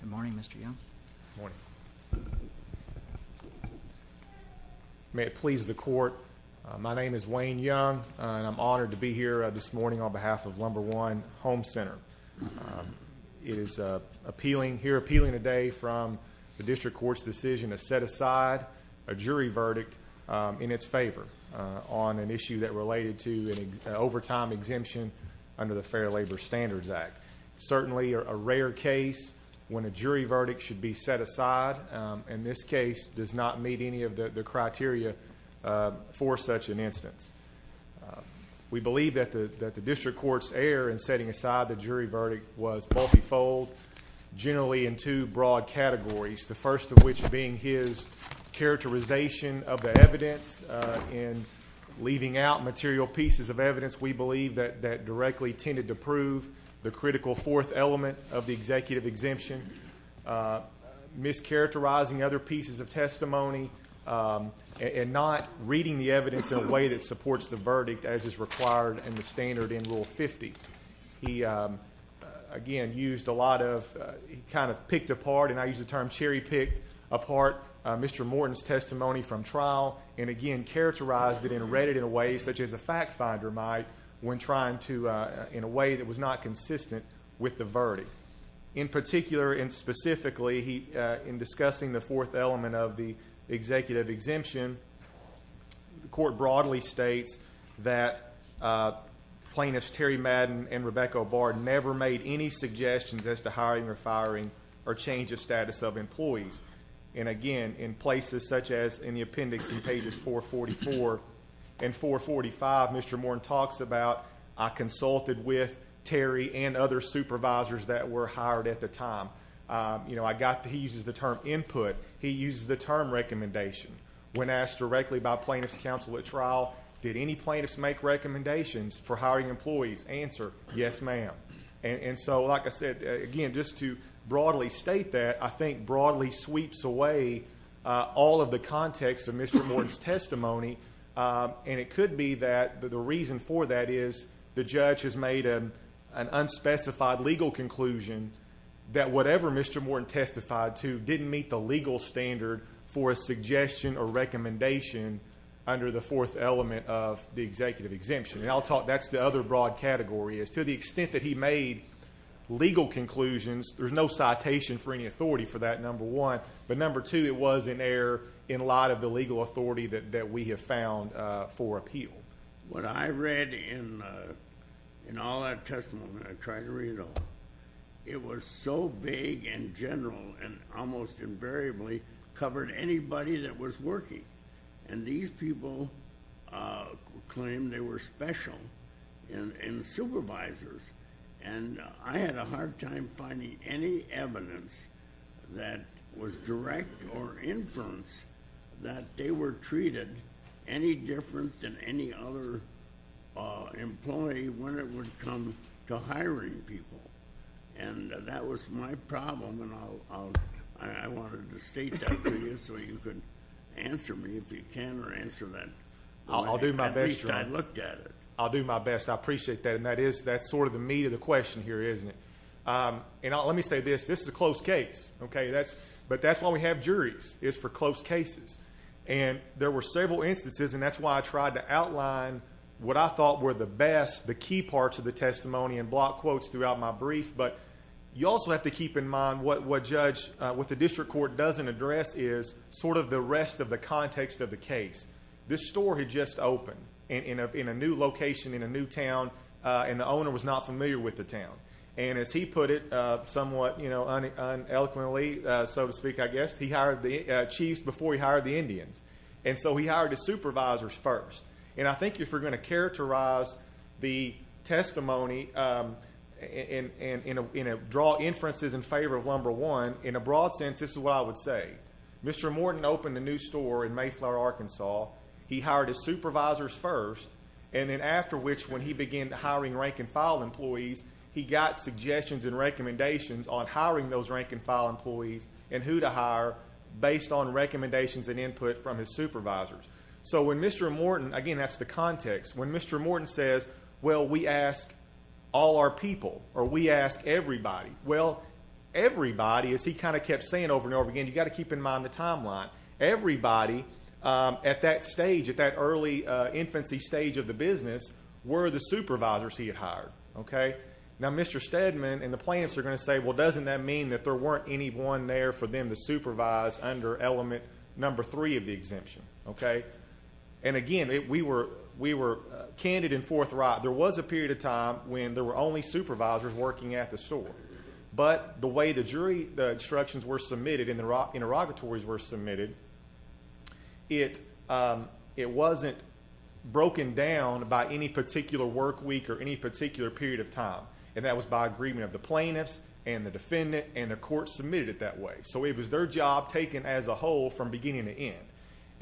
Good morning Mr. Young. May it please the court, my name is Wayne Young and I'm honored to be here this morning on behalf of Lumber One Home Center. It is appealing, here appealing today from the district court's decision to set aside a jury verdict in its favor on an issue that related to an overtime exemption under the Fair Labor Standards Act. Certainly a rare case when a jury verdict should be set aside and this case does not meet any of the criteria for such an instance. We believe that the that the district court's error in setting aside the jury verdict was multifold, generally in two broad categories. The first of which being his characterization of the evidence in leaving out material pieces of evidence we believe that that directly tended to prove the critical fourth element of the executive exemption, mischaracterizing other pieces of testimony and not reading the evidence in a way that supports the verdict as is required in the standard in Rule 50. He again used a lot of kind of picked apart and I use the term cherry-picked apart Mr. Morton's trial and again characterized it and read it in a way such as a fact finder might when trying to in a way that was not consistent with the verdict. In particular and specifically he in discussing the fourth element of the executive exemption, the court broadly states that plaintiffs Terry Madden and Rebecca O'Barr never made any suggestions as to hiring or firing or change of status of employees. And again in places such as in the appendix in pages 444 and 445 Mr. Morton talks about I consulted with Terry and other supervisors that were hired at the time. You know I got he uses the term input, he uses the term recommendation. When asked directly by plaintiffs counsel at trial did any plaintiffs make recommendations for hiring employees? Answer, yes ma'am. And so like I said again just to broadly state that I think broadly sweeps away all of the context of Mr. Morton's testimony and it could be that the reason for that is the judge has made an unspecified legal conclusion that whatever Mr. Morton testified to didn't meet the legal standard for a suggestion or recommendation under the fourth element of the executive exemption. And I'll talk that's the other broad category is to the extent that he made legal conclusions there's no citation for any authority for that number one but number two it was in error in light of the legal authority that we have found for appeal. What I read in all that testimony, I tried to read it all, it was so big and general and almost invariably covered anybody that was working and these people claim they were special and supervisors and I had a hard time finding any evidence that was direct or inference that they were treated any different than any other employee when it would come to hiring people and that was my problem and I wanted to state that to you so you could answer me if you can or answer me. I'll do my best. At least I looked at it. I'll do my best. I appreciate that and that's sort of the meat of the question here isn't it? Let me say this, this is a close case but that's why we have juries is for close cases and there were several instances and that's why I tried to outline what I thought were the best, the key parts of the testimony and block quotes throughout my brief but you also have to keep in mind what the district court doesn't address is sort of the rest of the context of the case. This store had just opened in a new location in a new town and the owner was not familiar with the town and as he put it somewhat eloquently so to speak I guess he hired the chiefs before he hired the Indians and so he hired the supervisors first and I think if we're going to characterize the testimony and draw inferences in favor of number one in a broad sense this is what I would say. Mr. Morton opened a new store in Mayflower, Arkansas. He hired his supervisors first and then after which when he began hiring rank and file employees he got suggestions and recommendations on hiring those rank and file employees and who to hire based on recommendations and input from his supervisors. So when Mr. Morton, again that's the context, when Mr. Morton says well we ask all our people or we ask everybody well everybody as he kind of kept saying over and over again you got to keep in mind the timeline everybody at that stage at that early infancy stage of the business were the supervisors he had hired. Okay now Mr. Stedman and the plants are going to say well doesn't that mean that there weren't any one there for them to supervise under element number three of the exemption okay and again it we were we were candid and forthright there was a period of time when there were only supervisors working at the store but the way the jury the instructions were submitted in the rock interrogatories were submitted it it wasn't broken down by any particular work week or any particular period of time and that was by agreement of the plaintiffs and the defendant and the court submitted it that way so it was their job taken as a whole from beginning to end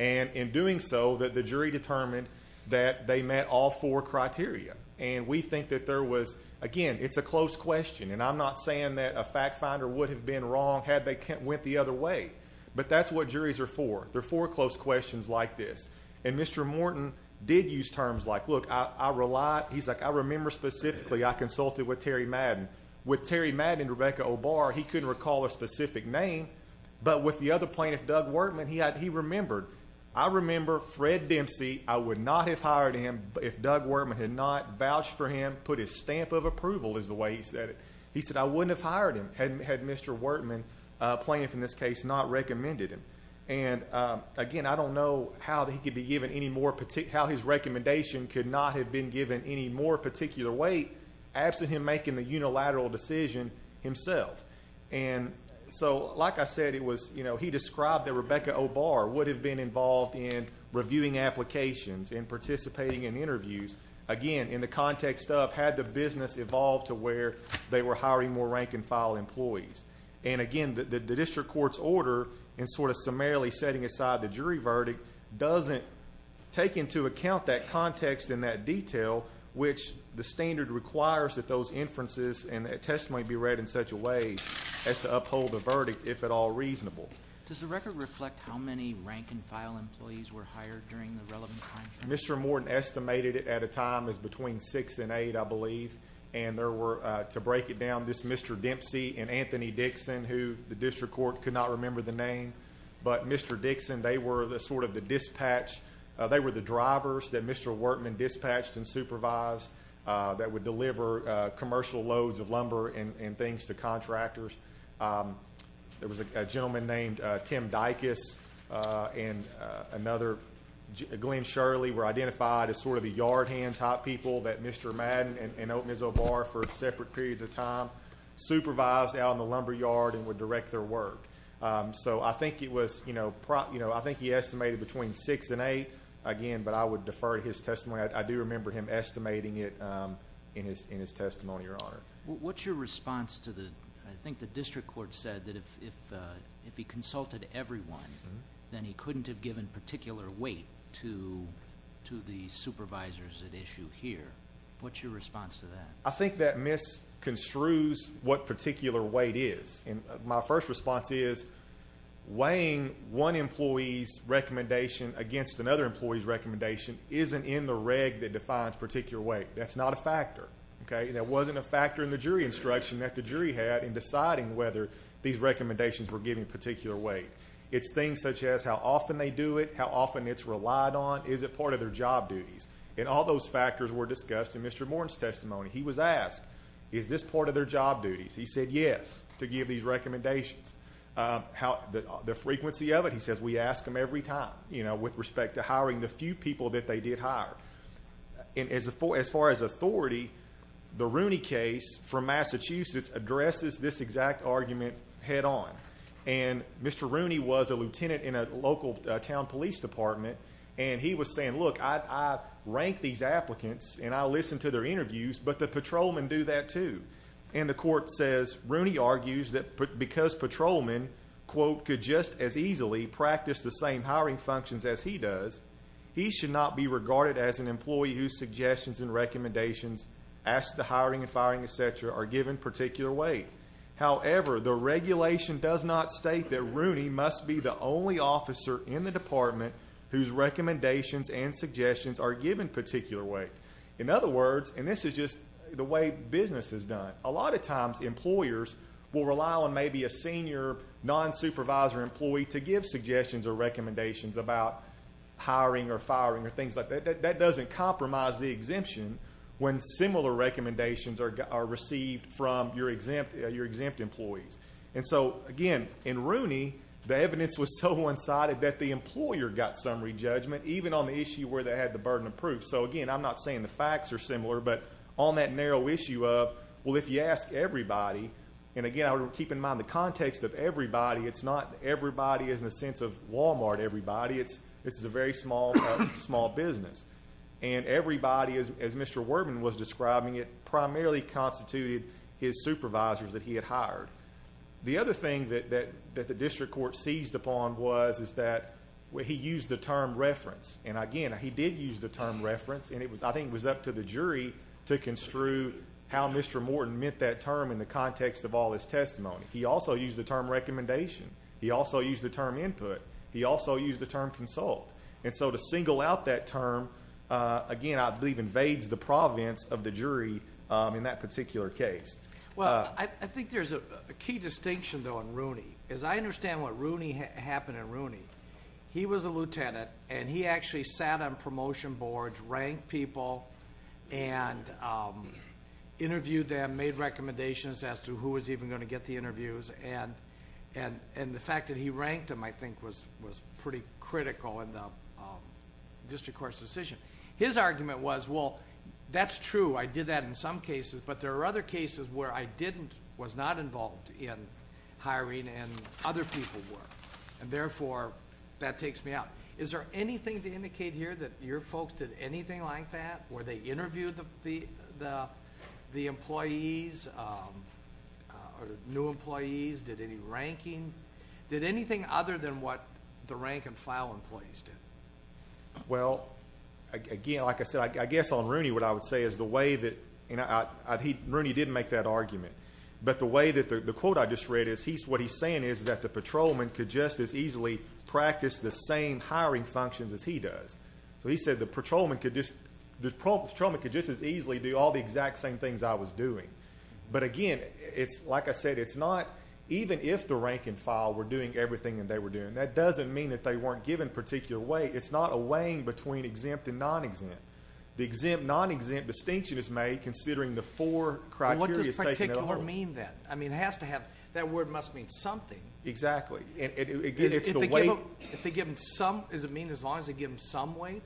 and in doing so that the jury determined that they met all four criteria and we think that there was again it's a close question and I'm not saying that a fact finder would have been wrong had they can't went the other way but that's what juries are for there for close questions like this and Mr. Morton did use terms like look I rely he's like I remember specifically I consulted with Terry Madden with Terry Madden Rebecca Obar he couldn't recall a specific name but with the other plaintiff Doug Workman he had he remembered I remember Fred Dempsey I would not have hired him if Doug Workman had not vouched for him put his stamp of approval is the way he said it he said I wouldn't have hired him hadn't had mr. Workman plaintiff in this case not recommended him and again I don't know how that he could be given any more particular how his recommendation could not have been given any more particular weight absent him making the unilateral decision himself and so like I said it was you know he described that Rebecca Obar would have been involved in reviewing applications and participating in interviews again in the context of had the business evolved to where they were hiring more rank-and-file employees and again the district court's order and sort of summarily setting aside the jury verdict doesn't take into account that context in that detail which the standard requires that those inferences and a testimony be read in such a way as to uphold the verdict if at all reasonable does the record reflect how many rank-and-file employees were hired during the relevant mr. Morton estimated it at a time is between six and eight I believe and there were to break it down this mr. Dempsey and Anthony Dixon who the district court could not remember the name but mr. Dixon they were the sort of the dispatch they were the drivers that mr. Workman dispatched and supervised that would deliver commercial loads of lumber and things to contractors there was a gentleman named Tim Dicus and another Glenn Shirley were identified as sort of the yard hand top people that mr. Madden and open his own bar for separate periods of time supervised out in the lumberyard and would direct their work so I think it was you know prop you know I think he estimated between six and eight again but I would defer his testimony I do remember him estimating it in his in his your honor what's your response to the I think the district court said that if if if he consulted everyone then he couldn't have given particular weight to to the supervisors at issue here what's your response to that I think that miss construes what particular weight is and my first response is weighing one employees recommendation against another employees recommendation isn't in the defines particular way that's not a factor okay that wasn't a factor in the jury instruction that the jury had in deciding whether these recommendations were giving particular weight it's things such as how often they do it how often it's relied on is it part of their job duties and all those factors were discussed in mr. Morton's testimony he was asked is this part of their job duties he said yes to give these recommendations how the frequency of it he says we ask them every time you know with respect to hiring the few people that they did hire in as a for as far as authority the Rooney case from Massachusetts addresses this exact argument head-on and mr. Rooney was a lieutenant in a local town police department and he was saying look I ranked these applicants and I listened to their interviews but the patrolmen do that too and the court says Rooney argues that because patrolmen quote could just as easily practice the same hiring functions as he does he should not be regarded as an employee whose suggestions and recommendations ask the hiring and firing etc are given particular weight however the regulation does not state that Rooney must be the only officer in the department whose recommendations and suggestions are given particular weight in other words and this is just the way business is done a lot of times employers will rely on maybe a senior non-supervisor employee to give suggestions or recommendations about hiring or firing or things like that that doesn't compromise the exemption when similar recommendations are received from your exempt your exempt employees and so again in Rooney the evidence was so one-sided that the employer got summary judgment even on the issue where they had the burden of proof so again I'm not saying the facts are similar but on that narrow issue of well if you ask everybody and again I would keep in mind the context of everybody it's not everybody is in a sense of Walmart everybody it's this is a very small small business and everybody is as mr. Worben was describing it primarily constituted his supervisors that he had hired the other thing that that that the district court seized upon was is that where he used the term reference and again he did use the term reference and it was I think was up to the jury to construe how mr. Morton meant that term in the context of all his testimony he also used the term recommendation he also used the term input he also used the term consult and so to single out that term again I believe invades the province of the jury in that particular case well I think there's a key distinction though in Rooney as I understand what Rooney happened in Rooney he was a lieutenant and he actually sat on promotion boards ranked people and interviewed them made recommendations as to who is even going to get the interviews and and and the fact that he ranked him I think was was pretty critical in the district court's decision his argument was well that's true I did that in some cases but there are other cases where I didn't was not involved in hiring and other people were and therefore that takes me out is there anything to indicate here that your new employees did any ranking did anything other than what the rank-and-file employees did well again like I said I guess on Rooney what I would say is the way that you know he Rooney didn't make that argument but the way that the quote I just read is he's what he's saying is that the patrolman could just as easily practice the same hiring functions as he does so he said the patrolman could just as easily do all the exact same things I was doing but again it's like I said it's not even if the rank-and-file were doing everything and they were doing that doesn't mean that they weren't given particular way it's not a weighing between exempt and non-exempt the exempt non-exempt distinction is made considering the four criteria that are mean that I mean has to have that word must mean something exactly and again it's the way they give them some is it as long as they give them some weight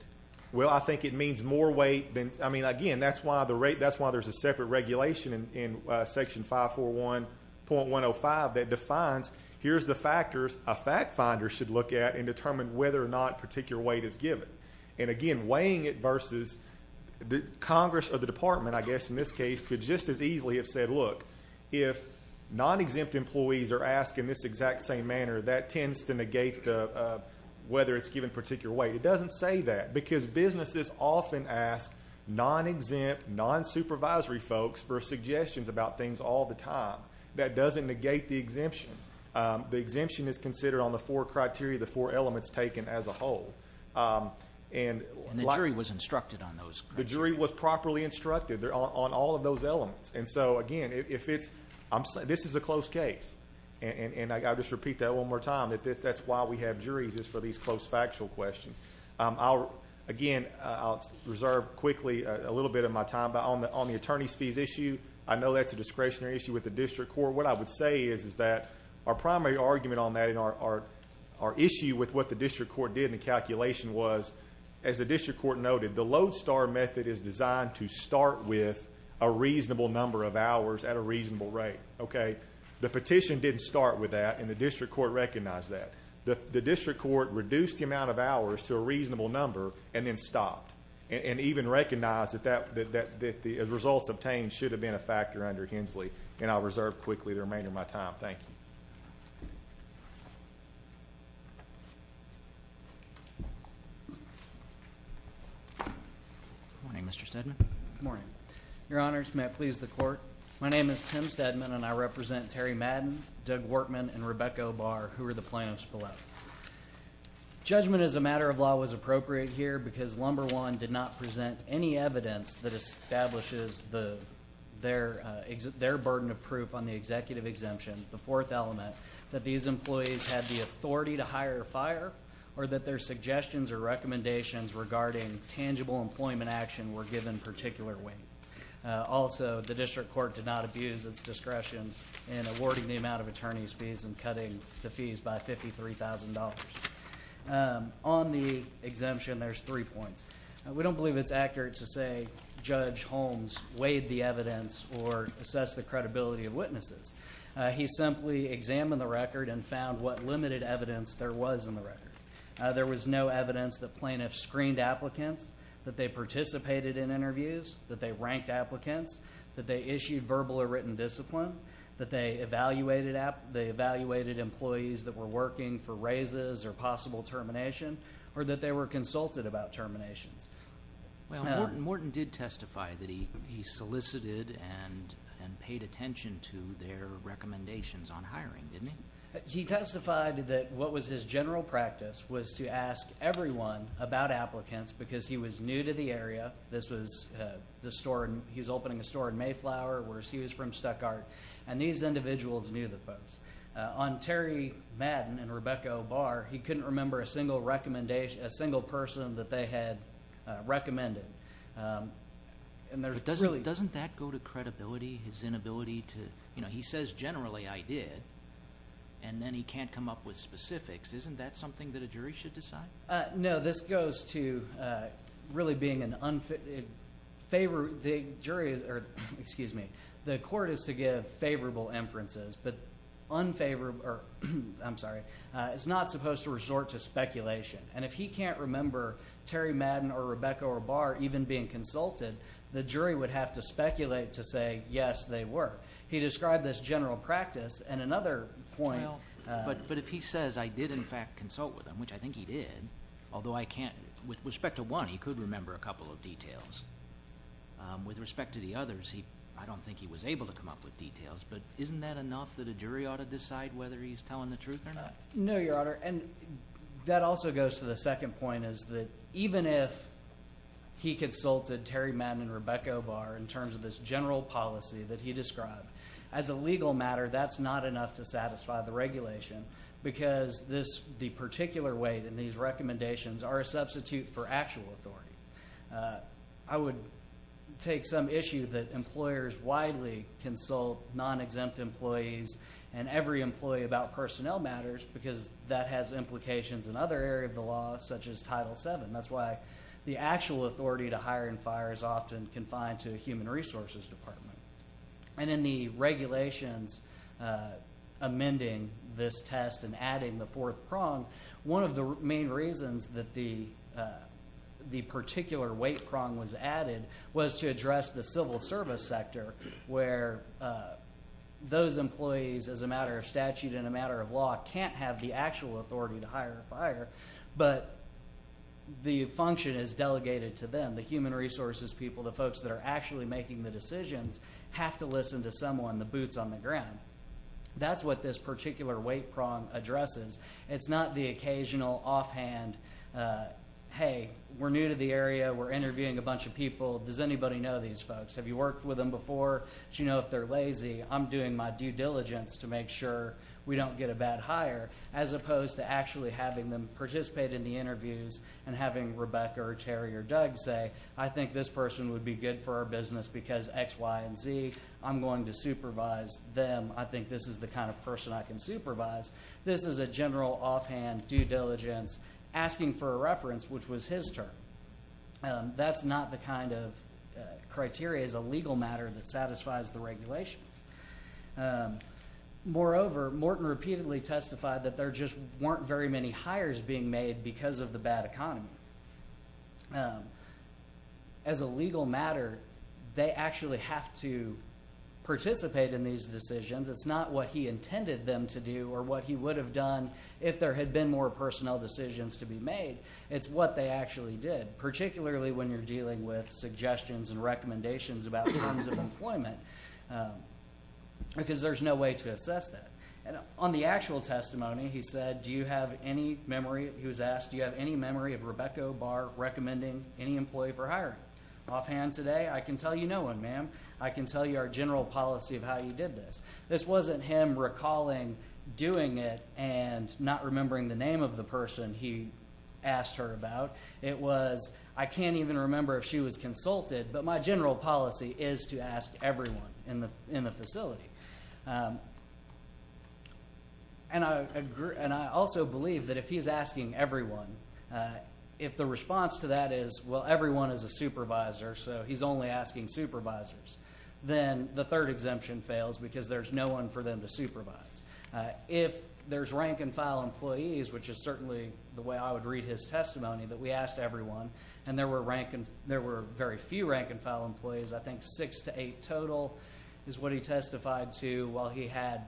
well I think it means more weight than I mean again that's why the rate that's why there's a separate regulation in section 541.105 that defines here's the factors a fact finder should look at and determine whether or not particular weight is given and again weighing it versus the Congress of the department I guess in this case could just as easily have said look if non-exempt employees are asked in this exact same manner that tends to negate the whether it's given particular weight it doesn't say that because businesses often ask non-exempt non-supervisory folks for suggestions about things all the time that doesn't negate the exemption the exemption is considered on the four criteria the four elements taken as a whole and the jury was instructed on those the jury was properly instructed there on all of those elements and so again if it's I'm saying this is a close case and I got to just repeat that one more time that this that's why we have juries is for these close factual questions I'll again I'll reserve quickly a little bit of my time but on the on the attorneys fees issue I know that's a discretionary issue with the district court what I would say is is that our primary argument on that in our our issue with what the district court did in the calculation was as the district court noted the lodestar method is designed to start with a reasonable number of hours at a reasonable rate okay the petition didn't start with that and the district court recognized that the district court reduced the amount of hours to a reasonable number and then stopped and even recognized that that that that the results obtained should have been a factor under Hensley and I'll reserve quickly the remainder of my time thank you morning mr. Steadman morning your honors may I please the court my name is Tim Steadman and I represent Terry Madden Doug Workman and Rebecca bar who are the plaintiffs below judgment as a matter of law was appropriate here because lumber one did not present any evidence that establishes the their exit their burden of proof on the executive exemption the fourth element that these employees had the authority to hire a fire or that their suggestions or recommendations regarding tangible employment action were given particular weight also the discretion in awarding the amount of attorneys fees and cutting the fees by $53,000 on the exemption there's three points we don't believe it's accurate to say judge Holmes weighed the evidence or assess the credibility of witnesses he simply examined the record and found what limited evidence there was in the record there was no evidence that plaintiffs screened applicants that they participated in interviews that they ranked applicants that they issued verbal or written discipline that they evaluated app they evaluated employees that were working for raises or possible termination or that they were consulted about terminations well Morton did testify that he he solicited and and paid attention to their recommendations on hiring didn't he he testified that what was his general practice was to ask everyone about applicants because he was new to the area this was the store and he was opening a store in Mayflower where he was from Stuttgart and these individuals knew the folks on Terry Madden and Rebecca O'Barr he couldn't remember a single recommendation a single person that they had recommended and there's doesn't really doesn't that go to credibility his inability to you know he says generally I did and then he can't come up with specifics isn't that something that a jury should decide no this goes to really being an unfit favor the jury's excuse me the court is to give favorable inferences but unfavorable I'm sorry it's not supposed to resort to speculation and if he can't remember Terry Madden or Rebecca O'Barr even being consulted the jury would have to speculate to say yes they were he described this general practice and another point but but if he says I did in fact consult with him which I think he did although I can't with respect to one he could remember a couple of details with respect to the others he I don't think he was able to come up with details but isn't that enough that a jury ought to decide whether he's telling the truth or not no your honor and that also goes to the second point is that even if he consulted Terry Madden Rebecca O'Barr in terms of this general policy that he described as a legal matter that's not enough to satisfy the regulation because this the particular weight in these recommendations are a substitute for actual authority I would take some issue that employers widely consult non-exempt employees and every employee about personnel matters because that has implications in other area of the law such as title 7 that's why the actual authority to hire and fire is often confined to human resources and in the regulations amending this test and adding the fourth prong one of the main reasons that the the particular weight prong was added was to address the civil service sector where those employees as a matter of statute in a matter of law can't have the actual authority to hire fire but the function is delegated to them the human resources people the folks that are actually making the decisions have to listen to someone the boots on the ground that's what this particular weight prong addresses it's not the occasional offhand hey we're new to the area we're interviewing a bunch of people does anybody know these folks have you worked with them before you know if they're lazy I'm doing my due diligence to make sure we don't get a bad hire as opposed to actually having them participate in the interviews and having Rebecca or Terry or Doug say I think this person would be good for our business because X Y and Z I'm going to supervise them I think this is the kind of person I can supervise this is a general offhand due diligence asking for a reference which was his turn that's not the kind of criteria is a legal matter that satisfies the regulation moreover Morton repeatedly testified that there just weren't very many hires being made because of the bad economy as a legal matter they actually have to participate in these decisions it's not what he intended them to do or what he would have done if there had been more personnel decisions to be made it's what they actually did particularly when you're dealing with suggestions and recommendations about employment because there's no way to assess that and on the do you have any memory of Rebecca bar recommending any employee for hiring offhand today I can tell you no one ma'am I can tell you our general policy of how you did this this wasn't him recalling doing it and not remembering the name of the person he asked her about it was I can't even remember if she was consulted but my general policy is to ask everyone in the in the if the response to that is well everyone is a supervisor so he's only asking supervisors then the third exemption fails because there's no one for them to supervise if there's rank-and-file employees which is certainly the way I would read his testimony that we asked everyone and there were rank and there were very few rank-and-file employees I think six to eight total is what he testified to while he had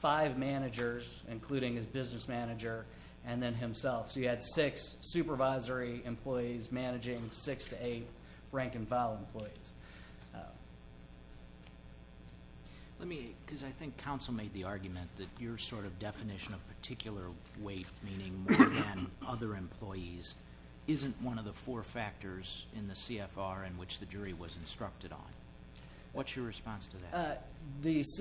five managers including his business manager and then himself so you had six supervisory employees managing six to eight rank-and-file employees let me because I think counsel made the argument that your sort of definition of particular weight meaning other employees isn't one of the four factors in the CFR in which the jury was instructed on what's your response to is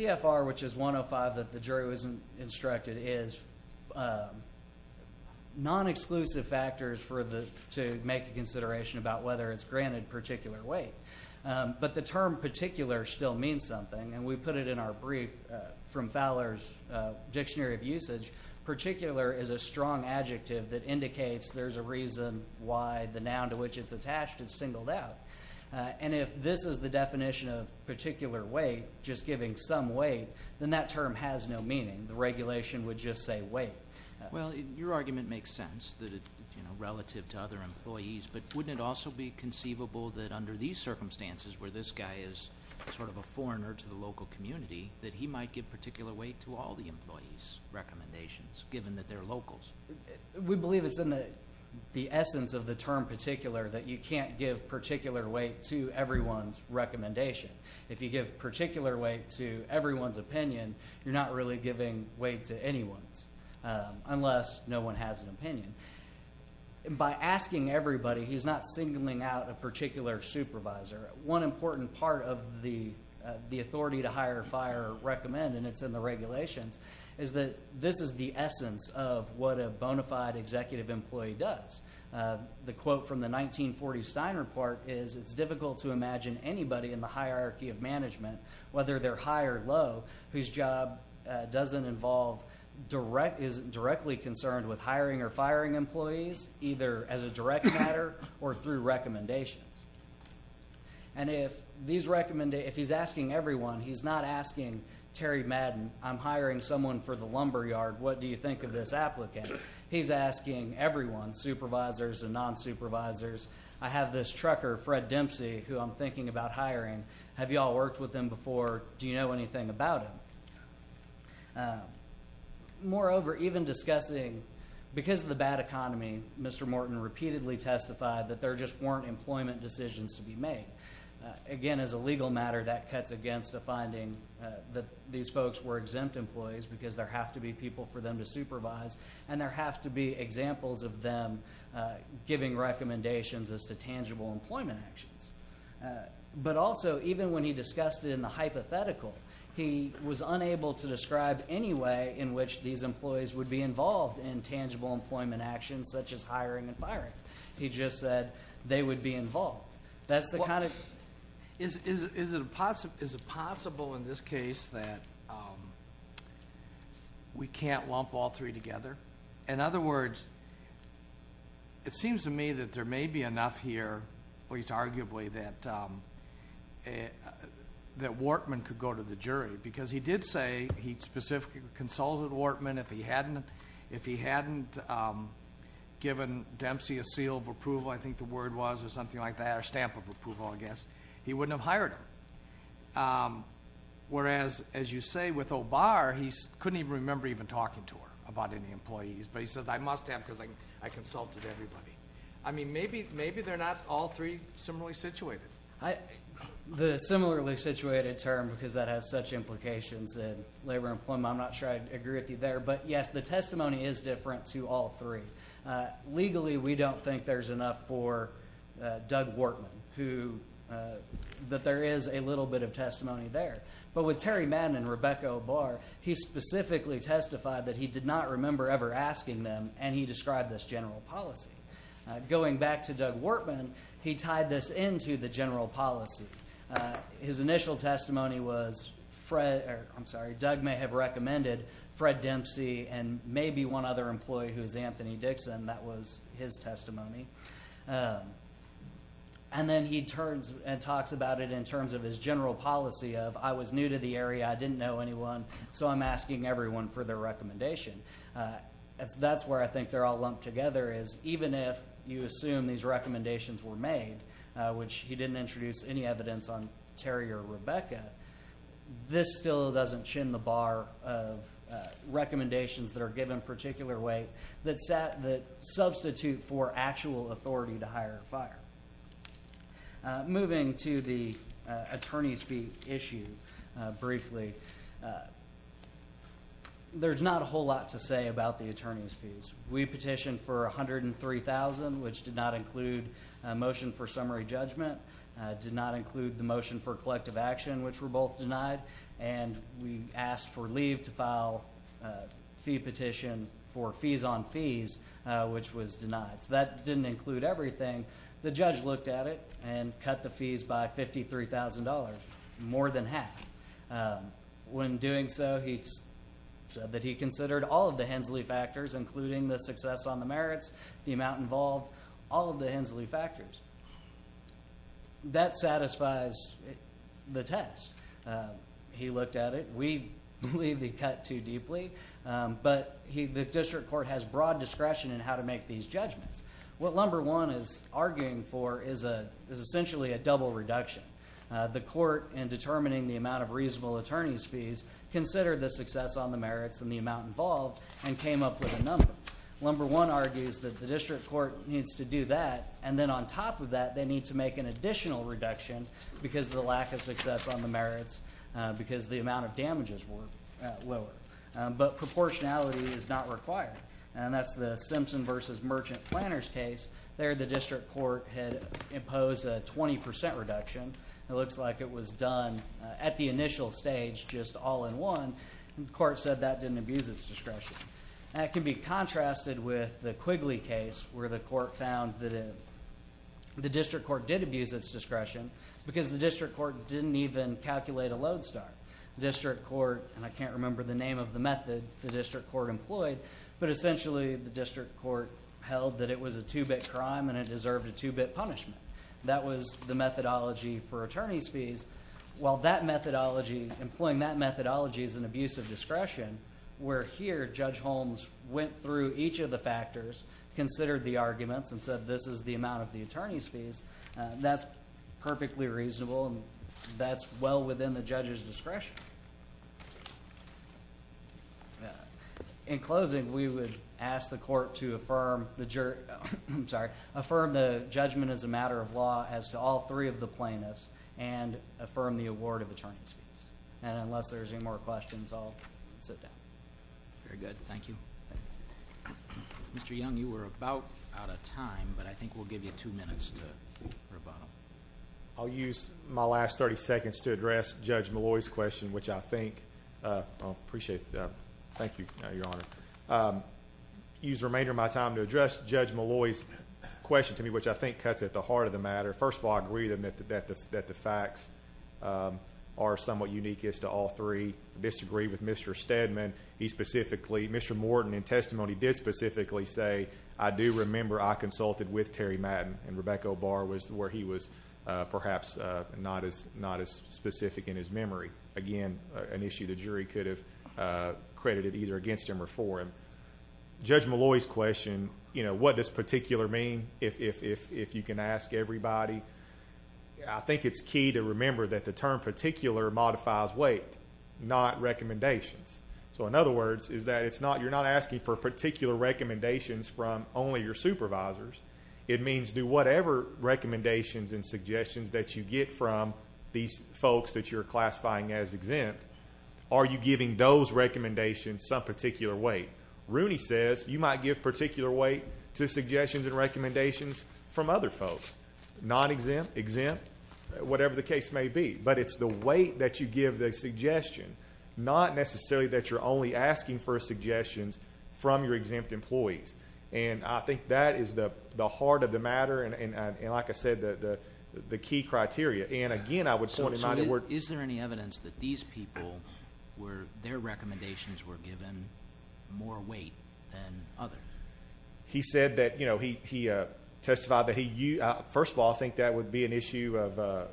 non-exclusive factors for the to make a consideration about whether it's granted particular weight but the term particular still means something and we put it in our brief from Fowler's dictionary of usage particular is a strong adjective that indicates there's a reason why the noun to which it's attached is singled out and if this is the definition of particular weight just giving some weight then that term has no meaning the regulation would just say wait well your argument makes sense that it's relative to other employees but wouldn't also be conceivable that under these circumstances where this guy is sort of a foreigner to the local community that he might get particular weight to all the employees recommendations given that their locals we believe it's in the essence of the term particular that you can't give weight to everyone's recommendation if you give particular weight to everyone's opinion you're not really giving weight to anyone's unless no one has an opinion by asking everybody he's not singling out a particular supervisor one important part of the the authority to hire fire recommend and it's in the regulations is that this is the essence of what a bona fide executive employee does the quote from the nineteen forty sign report is it's difficult to imagine anybody in the hierarchy of management whether they're high or low whose job doesn't involve direct is directly concerned with hiring or firing employees either as a direct matter or through recommendations and if these recommend if he's asking everyone he's not asking Terry Madden I'm hiring someone for the lumberyard what do you think of this applicant he's asking everyone supervisors and non-supervisors I have this trucker Fred Dempsey who I'm thinking about hiring have y'all worked with them before do you know anything about it moreover even discussing because the bad economy Mr. Morton repeatedly testified that there just weren't employment decisions to be made again as a legal matter that cuts against the finding that these folks were exempt employees because there have to be people for them to supervise and there have to be examples of them giving recommendations as the tangible employment actions but also even when he discussed in the hypothetical he was unable to describe anyway in which these employees would be involved in tangible employment actions such as hiring and firing he just said they would be involved that's the kind is it possible in this case that we can't lump all three together in other words it seems to me that there may be enough here at least arguably that Wartman could go to the jury because he did say he specifically consulted Wartman if he hadn't if he hadn't given Dempsey a seal of approval I think the he wouldn't have hired whereas as you say with OBAR he couldn't even remember even talking to her about any employees but he says I must have because I consulted everybody I mean maybe maybe they're not all three similarly situated I the similarly situated term because that has such implications in labor employment I'm not sure I'd agree with you there but yes the testimony is different to all three legally we don't think there's enough for Doug Wartman who that there is a little bit of testimony there but with Terry Madden and Rebecca OBAR he specifically testified that he did not remember ever asking them and he described this general policy going back to Doug Wartman he tied this into the general policy his initial testimony was Fred I'm sorry Doug may have recommended Fred Dempsey and maybe one other employee who's Anthony Dixon that was his testimony and then he turns and talks about it in terms of his general policy of I was new to the area I didn't know anyone so I'm asking everyone for their recommendation that's that's where I think they're all lumped together is even if you assume these recommendations were made which he didn't introduce any evidence on Terry or Rebecca this still doesn't chin the bar of recommendations that are given particular way that set that substitute for actual authority to hire fire moving to the attorneys be issued briefly there's not a whole lot to say about the attorneys fees we petitioned for a hundred and three thousand which did not include a motion for summary judgment did not include the motion for collective action which were both denied and we asked for leave to file fee petition for fees on fees which was denied that didn't include everything the judge looked at it and cut the fees by fifty three thousand dollars more than half when doing so he said that he considered all of the Hensley factors including the success on the merits the amount involved all of the Hensley factors that satisfies the test he looked at it we cut too deeply but he the district court has broad discretion how to make these judgments what number one is arguing for is a is essentially a double reduction the court in determining the amount of reasonable attorneys fees consider the success on the merits and the amount involved and came up with a number one argues that the district court needs to do that and then on top of that they need to make an additional reduction because the lack of success on the merits because the amount of damages were lower but proportionality is not required and that's the Simpson versus merchant planners case there the district court had imposed a 20% reduction it looks like it was done at the initial stage just all in one court said that didn't abuse its discretion that can be contrasted with the Quigley case where the court found that it the district court did abuse its discretion because the district court didn't even calculate a load start district court and I can't remember the name of the method the district court employed but essentially the district court held that it was a two-bit crime and it deserved a two-bit punishment that was the methodology for attorney's fees while that methodology employing that methodology is an abuse of discretion where here judge Holmes went through each of the factors considered the arguments and said this is the amount of the attorney's fees that's perfectly reasonable and that's well within the judge's discretion in closing we would ask the court to affirm the jury I'm sorry affirm the judgment as a matter of law has to all three of the plaintiffs and affirm the award of attorney's fees and unless there's any more questions I'll sit down very good thank you mr. young you were about out of time but I think we'll give you two minutes to I'll use my last 30 seconds to address judge Malloy's question which I think appreciate that thank you your honor use remainder of my time to address judge Malloy's question to me which I think cuts at the heart of the matter first of all agreed that the fact that the facts are somewhat unique is to all three disagree with mr. Stedman he specifically mr. Morton in testimony did specifically say I do remember I consulted with Terry Madden and Rebecca bar was where he was perhaps not as not as specific in his memory again an issue the jury could have credited either against him or for him judge Malloy's question you know what this particular mean if you can ask everybody I think it's key to remember that the term particular modifies weight not recommendations so in other words is that it's not you're not asking for particular recommendations from only your supervisors it means do whatever recommendations and suggestions that you get from these folks that you're classifying as exempt are you giving those recommendations some particular weight Rooney says you might give particular weight to suggestions and recommendations from other folks not exempt exempt whatever the case may be but it's the weight that you give the suggestion not necessarily that you're only asking for suggestions from your exempt employees and I think that is the the heart of the matter and like I said that the key criteria and again I would say is there any evidence that these people were their recommendations were given more weight than other he said that you know he testified that he you first of all I think that would be an issue of a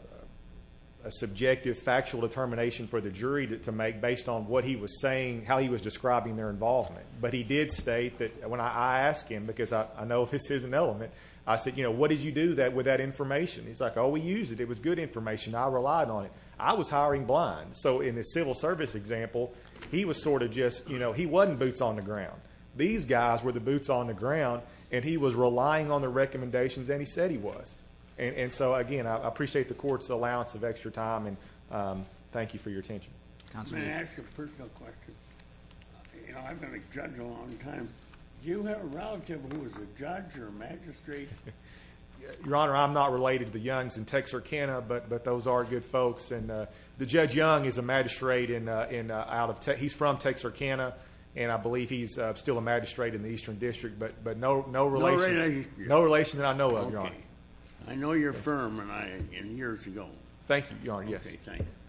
subjective factual determination for the jury to make based on what he was saying how he was describing their involvement but he did state that when I asked him because I know this is an element I said you know what did you do that with that information he's like oh we use it it was good information I relied on it I was hiring blind so in this civil service example he was sort of just you know he wasn't boots on the ground these guys were the boots on the ground and he was relying on the recommendations and he said he was and and so again I appreciate the court's allowance of extra time and thank you for your your honor I'm not related to the youngs in Texarkana but but those are good folks and the judge young is a magistrate in in out of tech he's from Texarkana and I believe he's still a magistrate in the Eastern District but but no no really no relation that I know of your honor I know your firm and I in years ago thank you your yes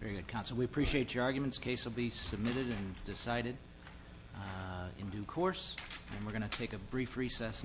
very good counsel we appreciate your arguments case will be submitted and decided in due course and we're gonna take a brief recess now